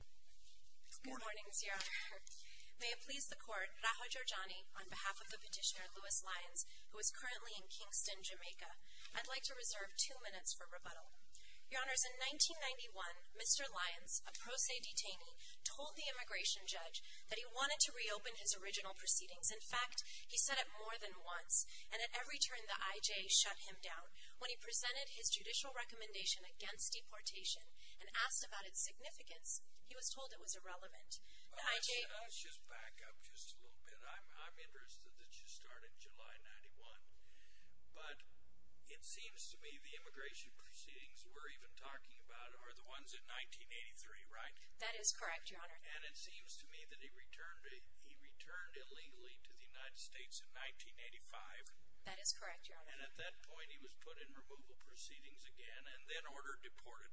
Good morning, Your Honor. May it please the Court, Raha Jorjani, on behalf of the petitioner Lewis Lyons, who is currently in Kingston, Jamaica. I'd like to reserve two minutes for rebuttal. Your Honors, in 1991, Mr. Lyons, a pro se detainee, told the immigration judge that he wanted to reopen his original proceedings. In fact, he said it more than once, and at every turn the IJ shut him down. When he presented his judicial recommendation against deportation and asked about its significance, he was told it was irrelevant. Let's just back up just a little bit. I'm interested that you started July 1991, but it seems to me the immigration proceedings we're even talking about are the ones in 1983, right? That is correct, Your Honor. And it seems to me that he returned illegally to the United States in 1985. That is correct, Your Honor. And at that point, he was put in removal proceedings again and then ordered deported.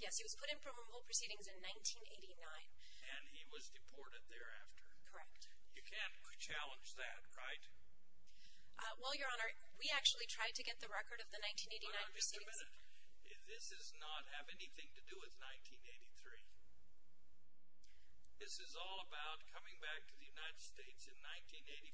Yes, he was put in removal proceedings in 1989. And he was deported thereafter. Correct. You can't challenge that, right? Well, Your Honor, we actually tried to get the record of the 1989 proceedings. Hold on just a minute. This does not have anything to do with 1983. This is all about coming back to the United States in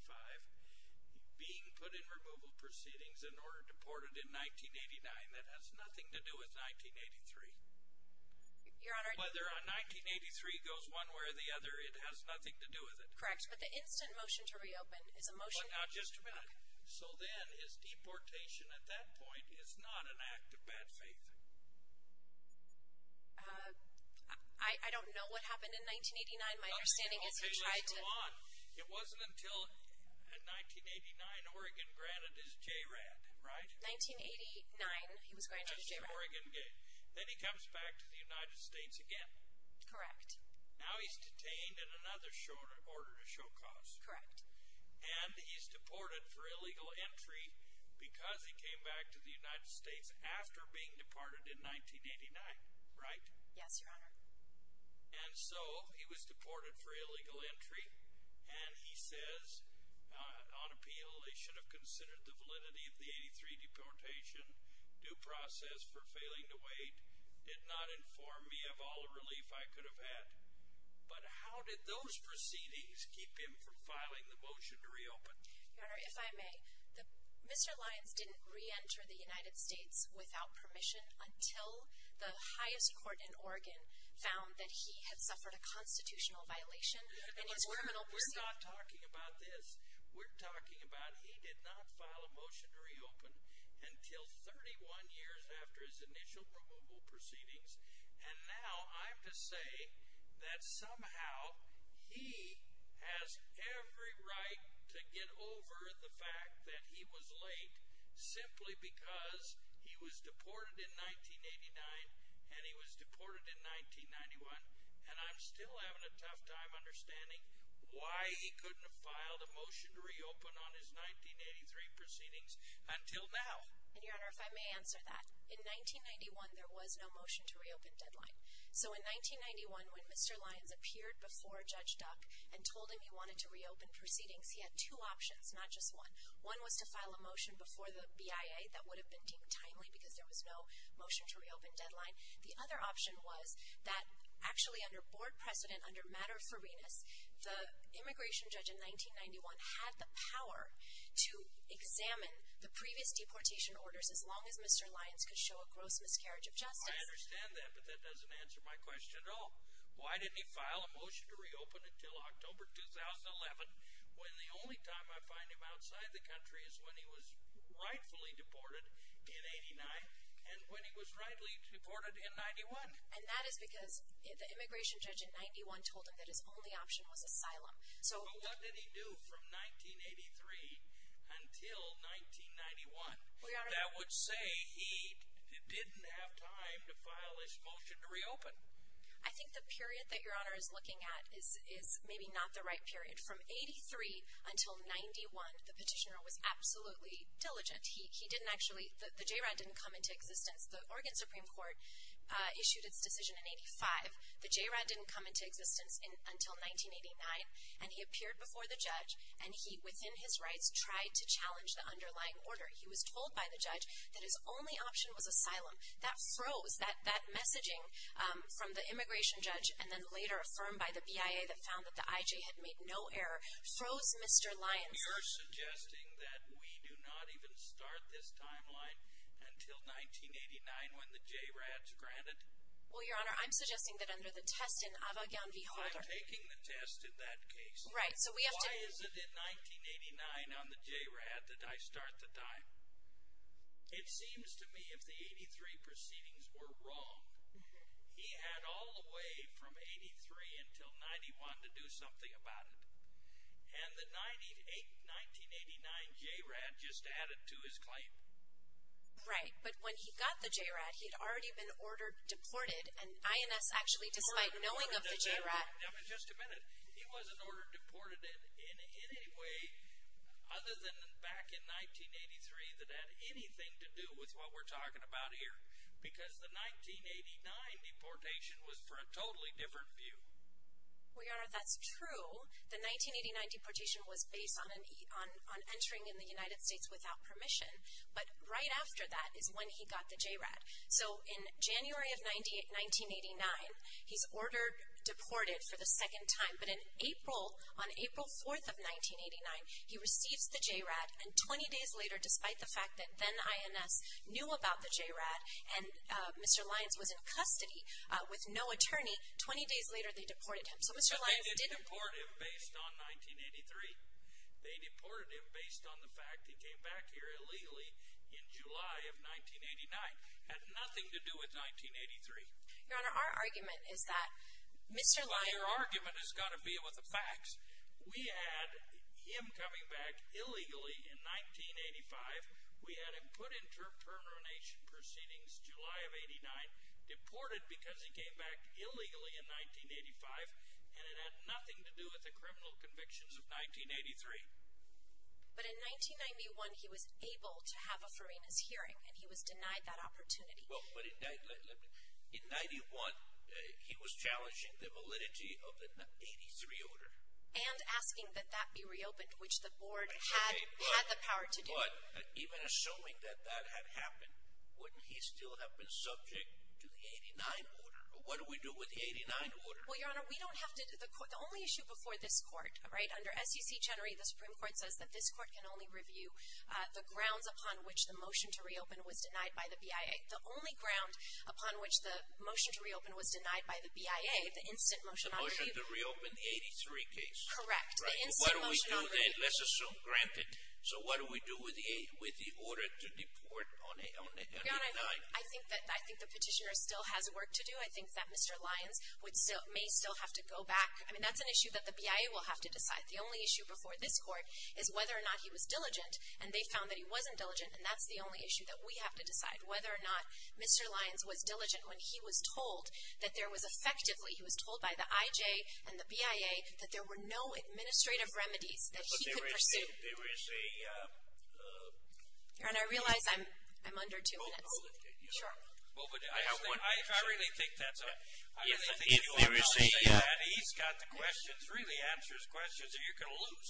1985, being put in removal proceedings, and ordered deported in 1989. That has nothing to do with 1983. Your Honor— Whether a 1983 goes one way or the other, it has nothing to do with it. Correct. But the instant motion to reopen is a motion— Well, now, just a minute. So then, is deportation at that point is not an act of bad faith? I don't know what happened in 1989. My understanding is he tried to— Okay, let's move on. It wasn't until 1989, Oregon granted his JRAD, right? 1989, he was granted his JRAD. That's his Oregon gain. Then he comes back to the United States again. Correct. Now he's detained in another order to show cause. Correct. And he's deported for illegal entry because he came back to the United States after being deported in 1989, right? Yes, Your Honor. And so he was deported for illegal entry, and he says, on appeal, they should have considered the validity of the 1983 deportation, due process for failing to wait, did not inform me of all the relief I could have had. But how did those proceedings keep him from filing the motion to reopen? Your Honor, if I may, Mr. Lyons didn't reenter the United States without permission until the highest court in Oregon found that he had suffered a constitutional violation in his criminal proceedings. We're not talking about this. We're talking about he did not file a motion to reopen until 31 years after his initial removal proceedings. And now I'm to say that somehow he has every right to get over the fact that he was late simply because he was deported in 1989 and he was deported in 1991. And I'm still having a tough time understanding why he couldn't have filed a motion to reopen on his 1983 proceedings until now. And, Your Honor, if I may answer that, in 1991, there was no motion to reopen deadline. So in 1991, when Mr. Lyons appeared before Judge Duck and told him he wanted to reopen proceedings, he had two options, not just one. One was to file a motion before the BIA that would have been deemed timely because there was no motion to reopen deadline. The other option was that actually under board precedent, under matter of fairness, the immigration judge in 1991 had the power to examine the previous deportation orders as long as Mr. Lyons could show a gross miscarriage of justice. I understand that, but that doesn't answer my question at all. Why didn't he file a motion to reopen until October 2011 when the only time I find him outside the country is when he was rightfully deported in 89 and when he was rightly deported in 91? And that is because the immigration judge in 91 told him that his only option was asylum. But what did he do from 1983 until 1991 that would say he didn't have time to file his motion to reopen? I think the period that Your Honor is looking at is maybe not the right period. From 83 until 91, the petitioner was absolutely diligent. The JROD didn't come into existence. The Oregon Supreme Court issued its decision in 85. The JROD didn't come into existence until 1989, and he appeared before the judge, and he, within his rights, tried to challenge the underlying order. He was told by the judge that his only option was asylum. That froze. That messaging from the immigration judge and then later affirmed by the BIA that found that the IJ had made no error froze Mr. Lyons. And you're suggesting that we do not even start this timeline until 1989 when the JROD is granted? Well, Your Honor, I'm suggesting that under the test in Avogadro v. Holder. I'm taking the test in that case. Right, so we have to Why is it in 1989 on the JROD that I start the time? It seems to me if the 83 proceedings were wrong, he had all the way from 83 until 91 to do something about it. And the 1989 JROD just added to his claim. Right, but when he got the JROD, he had already been ordered deported, and INS actually, despite knowing of the JROD Just a minute. He wasn't ordered deported in any way other than back in 1983 that had anything to do with what we're talking about here. Because the 1989 deportation was for a totally different view. Well, Your Honor, that's true. The 1989 deportation was based on entering in the United States without permission. But right after that is when he got the JROD. So in January of 1989, he's ordered deported for the second time. But in April, on April 4th of 1989, he receives the JROD. And 20 days later, despite the fact that then INS knew about the JROD and Mr. Lyons was in custody with no attorney. 20 days later, they deported him. But they didn't deport him based on 1983. They deported him based on the fact that he came back here illegally in July of 1989. Had nothing to do with 1983. Your Honor, our argument is that Mr. Lyons Well, your argument has got to be with the facts. We had him coming back illegally in 1985. We had him put in termination proceedings July of 1989. Deported because he came back illegally in 1985. And it had nothing to do with the criminal convictions of 1983. But in 1991, he was able to have a Farinas hearing. And he was denied that opportunity. Well, but in 91, he was challenging the validity of the 83 order. And asking that that be reopened, which the board had the power to do. But even assuming that that had happened, wouldn't he still have been subject to the 89 order? What do we do with the 89 order? Well, your Honor, we don't have to. The only issue before this court, right? Under SEC generally, the Supreme Court says that this court can only review the grounds upon which the motion to reopen was denied by the BIA. The only ground upon which the motion to reopen was denied by the BIA, the instant motion on review. Correct. The instant motion on review. Let's assume granted. So what do we do with the order to deport on 89? Your Honor, I think the petitioner still has work to do. I think that Mr. Lyons may still have to go back. I mean, that's an issue that the BIA will have to decide. The only issue before this court is whether or not he was diligent. And they found that he wasn't diligent. And that's the only issue that we have to decide. Whether or not Mr. Lyons was diligent when he was told that there was effectively. He was told by the IJ and the BIA that there were no administrative remedies that he could pursue. But there is a. Your Honor, I realize I'm under two minutes. Hold it. Sure. Well, but I have one question. I really think that's a. If there is a. He's got the questions, really answers questions that you're going to lose.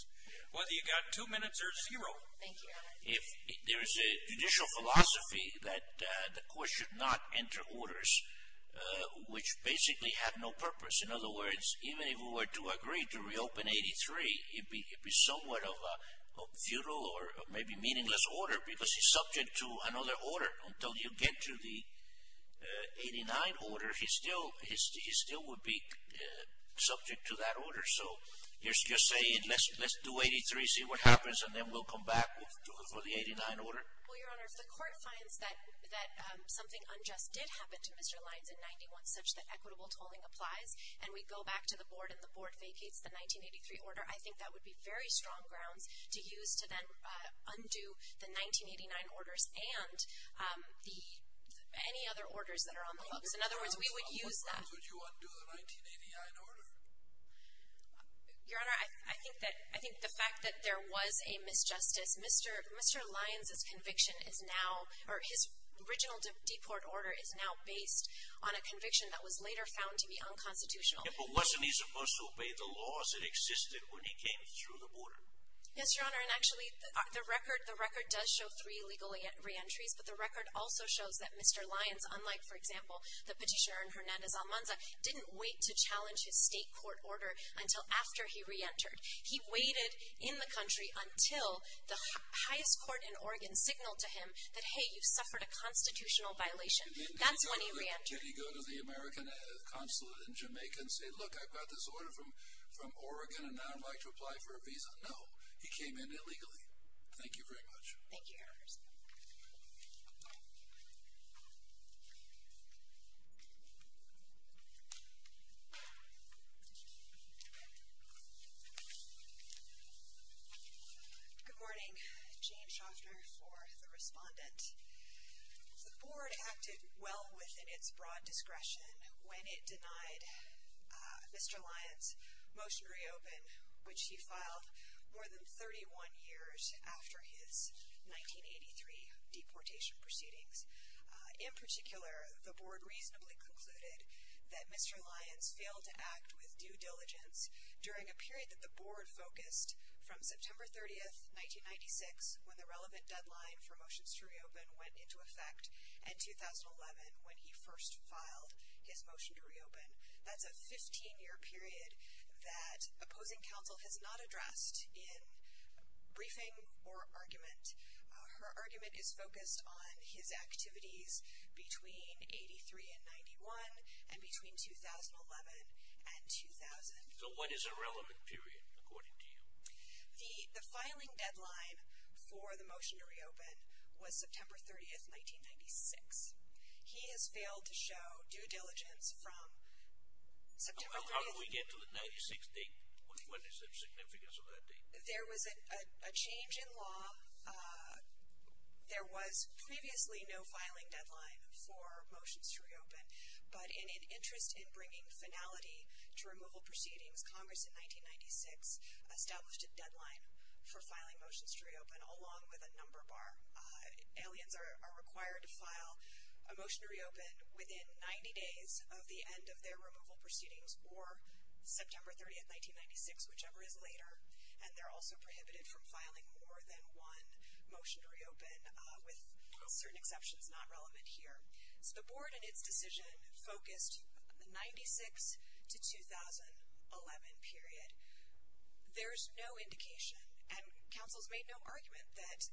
Whether you got two minutes or zero. Thank you, Your Honor. There is a judicial philosophy that the court should not enter orders which basically have no purpose. In other words, even if we were to agree to reopen 83, it would be somewhat of a futile or maybe meaningless order. Because he's subject to another order. Until you get to the 89 order, he still would be subject to that order. So you're saying let's do 83, see what happens, and then we'll come back for the 89 order? Well, Your Honor, if the court finds that something unjust did happen to Mr. Lyons in 91 such that equitable tolling applies, and we go back to the board and the board vacates the 1983 order, I think that would be very strong grounds to use to then undo the 1989 orders and any other orders that are on the books. In other words, we would use that. So would you undo the 1989 order? Your Honor, I think the fact that there was a misjustice, Mr. Lyons' conviction is now, or his original deport order is now based on a conviction that was later found to be unconstitutional. But wasn't he supposed to obey the laws that existed when he came through the border? Yes, Your Honor, and actually the record does show three legal reentries, but the record also shows that Mr. Lyons, unlike, for example, the petitioner Hernandez-Almanza, didn't wait to challenge his state court order until after he reentered. He waited in the country until the highest court in Oregon signaled to him that, hey, you suffered a constitutional violation. That's when he reentered. Did he go to the American consulate in Jamaica and say, look, I got this order from Oregon, and now I'd like to apply for a visa? No, he came in illegally. Thank you very much. Thank you, Your Honor. Thank you. Good morning. Jane Schaffner for the respondent. The board acted well within its broad discretion when it denied Mr. Lyons motion to reopen, which he filed more than 31 years after his 1983 deportation proceedings. In particular, the board reasonably concluded that Mr. Lyons failed to act with due diligence during a period that the board focused from September 30th, 1996, when the relevant deadline for motions to reopen went into effect, and 2011, when he first filed his motion to reopen. That's a 15-year period that opposing counsel has not addressed in briefing or argument. Her argument is focused on his activities between 83 and 91 and between 2011 and 2000. So when is a relevant period, according to you? The filing deadline for the motion to reopen was September 30th, 1996. He has failed to show due diligence from September 30th. How do we get to the 96 date? What is the significance of that date? There was a change in law. There was previously no filing deadline for motions to reopen, but in an interest in bringing finality to removal proceedings, Congress in 1996 established a deadline for filing motions to reopen along with a number bar. Aliens are required to file a motion to reopen within 90 days of the end of their removal proceedings, or September 30th, 1996, whichever is later, and they're also prohibited from filing more than one motion to reopen with certain exceptions not relevant here. So the board in its decision focused the 96 to 2011 period. There's no indication and councils made no argument that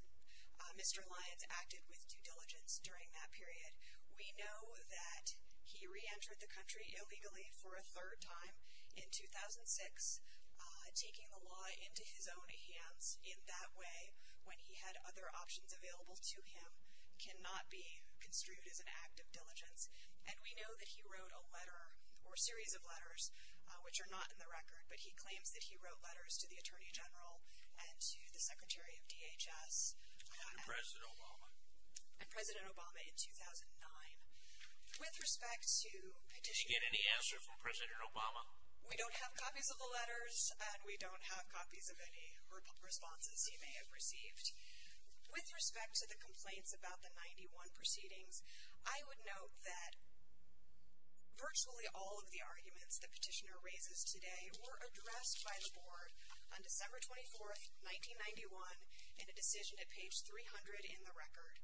Mr. Lyons acted with due diligence during that period. We know that he reentered the country illegally for a third time in 2006, taking the law into his own hands in that way when he had other options available to him, cannot be construed as an act of diligence. And we know that he wrote a letter or series of letters which are not in the record, but he claims that he wrote letters to the Attorney General and to the Secretary of DHS. And President Obama. And President Obama in 2009. With respect to petitioners. Did you get any answer from President Obama? We don't have copies of the letters, and we don't have copies of any responses he may have received. With respect to the complaints about the 91 proceedings, I would note that virtually all of the arguments the petitioner raises today were addressed by the board on December 24, 1991 in a decision at page 300 in the record.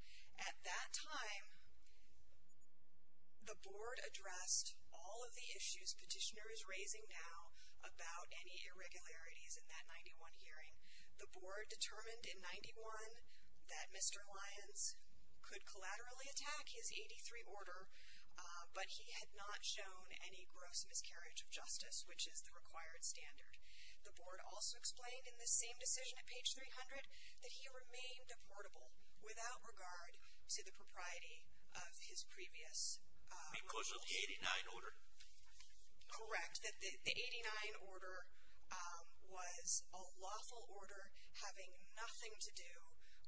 At that time, the board addressed all of the issues petitioners raising now about any irregularities in that 91 hearing. The board determined in 91 that Mr. Lyons could collaterally attack his 83 order, but he had not shown any gross miscarriage of justice, which is the required standard. The board also explained in the same decision at page 300 that he remained deportable without regard to the propriety of his previous removal. Because of the 89 order? Correct. The 89 order was a lawful order having nothing to do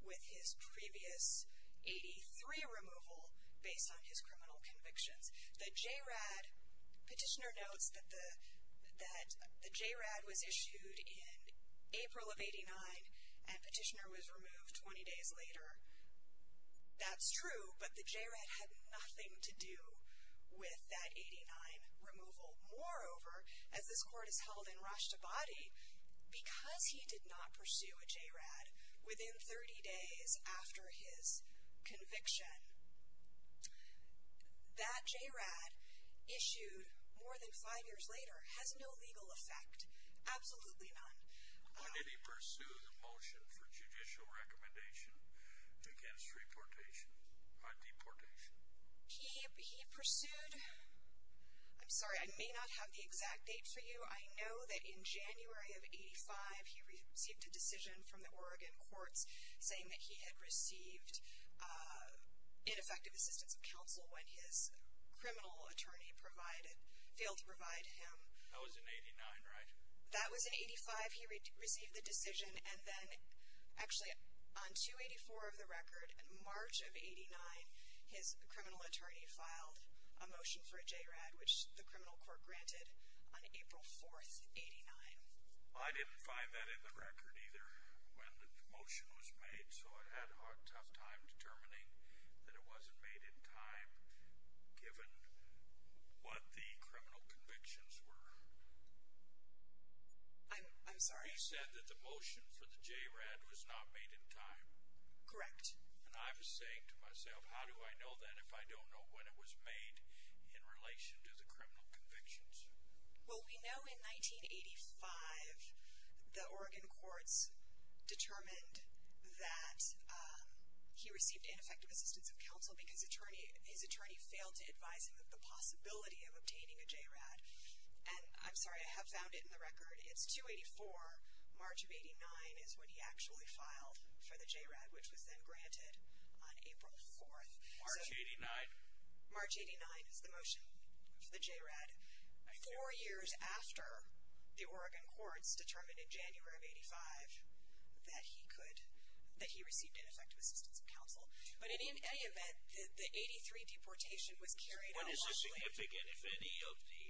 with his previous 83 removal based on his criminal convictions. The JRAD petitioner notes that the JRAD was issued in April of 89 and petitioner was removed 20 days later. That's true, but the JRAD had nothing to do with that 89 removal. Moreover, as this court has held in Rashtabadi, because he did not pursue a JRAD within 30 days after his conviction, that JRAD issued more than five years later has no legal effect. Absolutely none. When did he pursue the motion for judicial recommendation against deportation? He pursued, I'm sorry I may not have the exact date for you, I know that in January of 85 he received a decision from the Oregon courts saying that he had received ineffective assistance of counsel when his criminal attorney failed to provide him. That was in 89, right? That was in 85 he received the decision and then actually on 284 of the record in March of 89, his criminal attorney filed a motion for a JRAD which the criminal court granted on April 4th, 89. I didn't find that in the record either when the motion was made, so I had a tough time determining that it wasn't made in time given what the criminal convictions were. I'm sorry? You said that the motion for the JRAD was not made in time? Correct. And I was saying to myself, how do I know that if I don't know when it was made in relation to the criminal convictions? Well, we know in 1985 the Oregon courts determined that he received ineffective assistance of counsel because his attorney failed to advise him of the possibility of obtaining a JRAD. And I'm sorry, I have found it in the record. It's 284, March of 89 is when he actually filed for the JRAD which was then granted on April 4th. March 89? March 89 is the motion for the JRAD. Four years after the Oregon courts determined in January of 85 that he received ineffective assistance of counsel. But in any event, the 83 deportation was carried out lawfully. What is the significance if any of the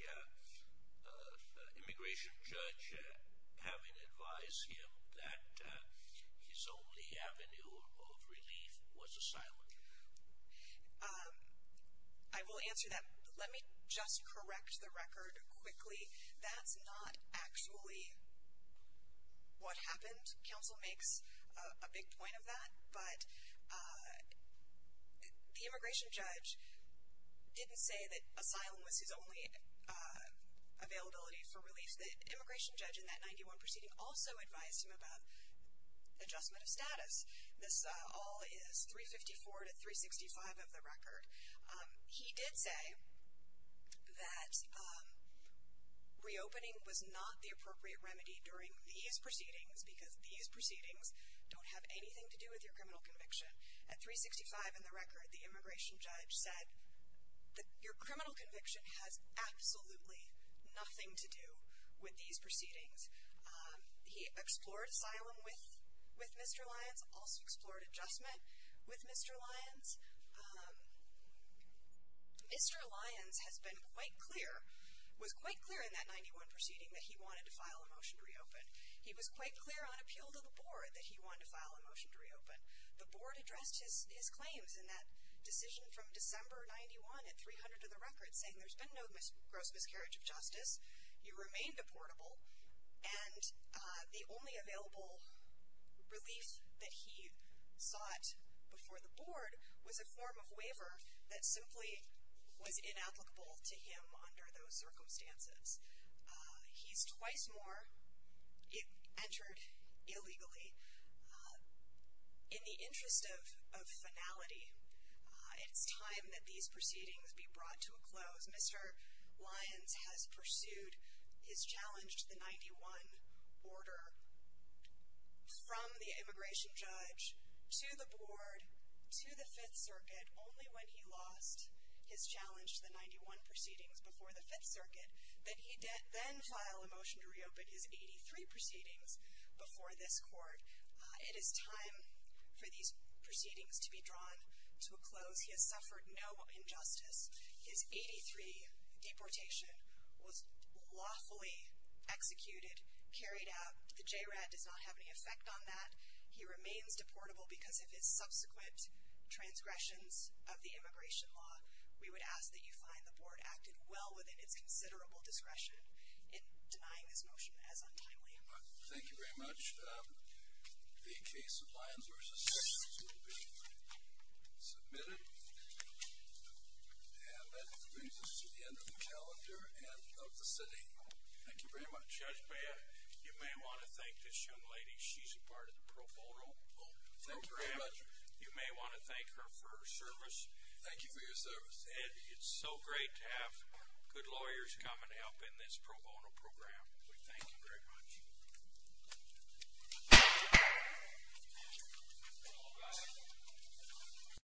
immigration judge having advised him that his only avenue of relief was asylum? I will answer that. Let me just correct the record quickly. That's not actually what happened. Counsel makes a big point of that. But the immigration judge didn't say that asylum was his only availability for relief. The immigration judge in that 91 proceeding also advised him about adjustment of status. This all is 354 to 365 of the record. He did say that reopening was not the appropriate remedy during these proceedings because these proceedings don't have anything to do with your criminal conviction. At 365 in the record, the immigration judge said that your criminal conviction has absolutely nothing to do with these proceedings. He explored asylum with Mr. Lyons, also explored adjustment with Mr. Lyons. Mr. Lyons has been quite clear, was quite clear in that 91 proceeding that he wanted to file a motion to reopen. He was quite clear on appeal to the board that he wanted to file a motion to reopen. The board addressed his claims in that decision from December 91 at 300 of the record, saying there's been no gross miscarriage of justice. You remain deportable. And the only available relief that he sought before the board was a form of waiver that simply was inapplicable to him under those circumstances. He's twice more entered illegally. In the interest of finality, it's time that these proceedings be brought to a close. Mr. Lyons has pursued his challenge to the 91 order from the immigration judge to the board to the 5th Circuit only when he lost his challenge to the 91 proceedings before the 5th Circuit that he then filed a motion to reopen his 83 proceedings before this court. It is time for these proceedings to be drawn to a close. He has suffered no injustice. His 83 deportation was lawfully executed, carried out. The JRAD does not have any effect on that. He remains deportable because of his subsequent transgressions of the immigration law. We would ask that you find the board acted well within its considerable discretion in denying this motion as untimely. Thank you very much. The case of Lyons v. Sessions will be submitted. And that brings us to the end of the calendar and of the sitting. Thank you very much. Judge Baird, you may want to thank this young lady. She's a part of the pro bono program. You may want to thank her for her service. Thank you for your service. And it's so great to have good lawyers come and help in this pro bono program. We thank you very much. Thank you.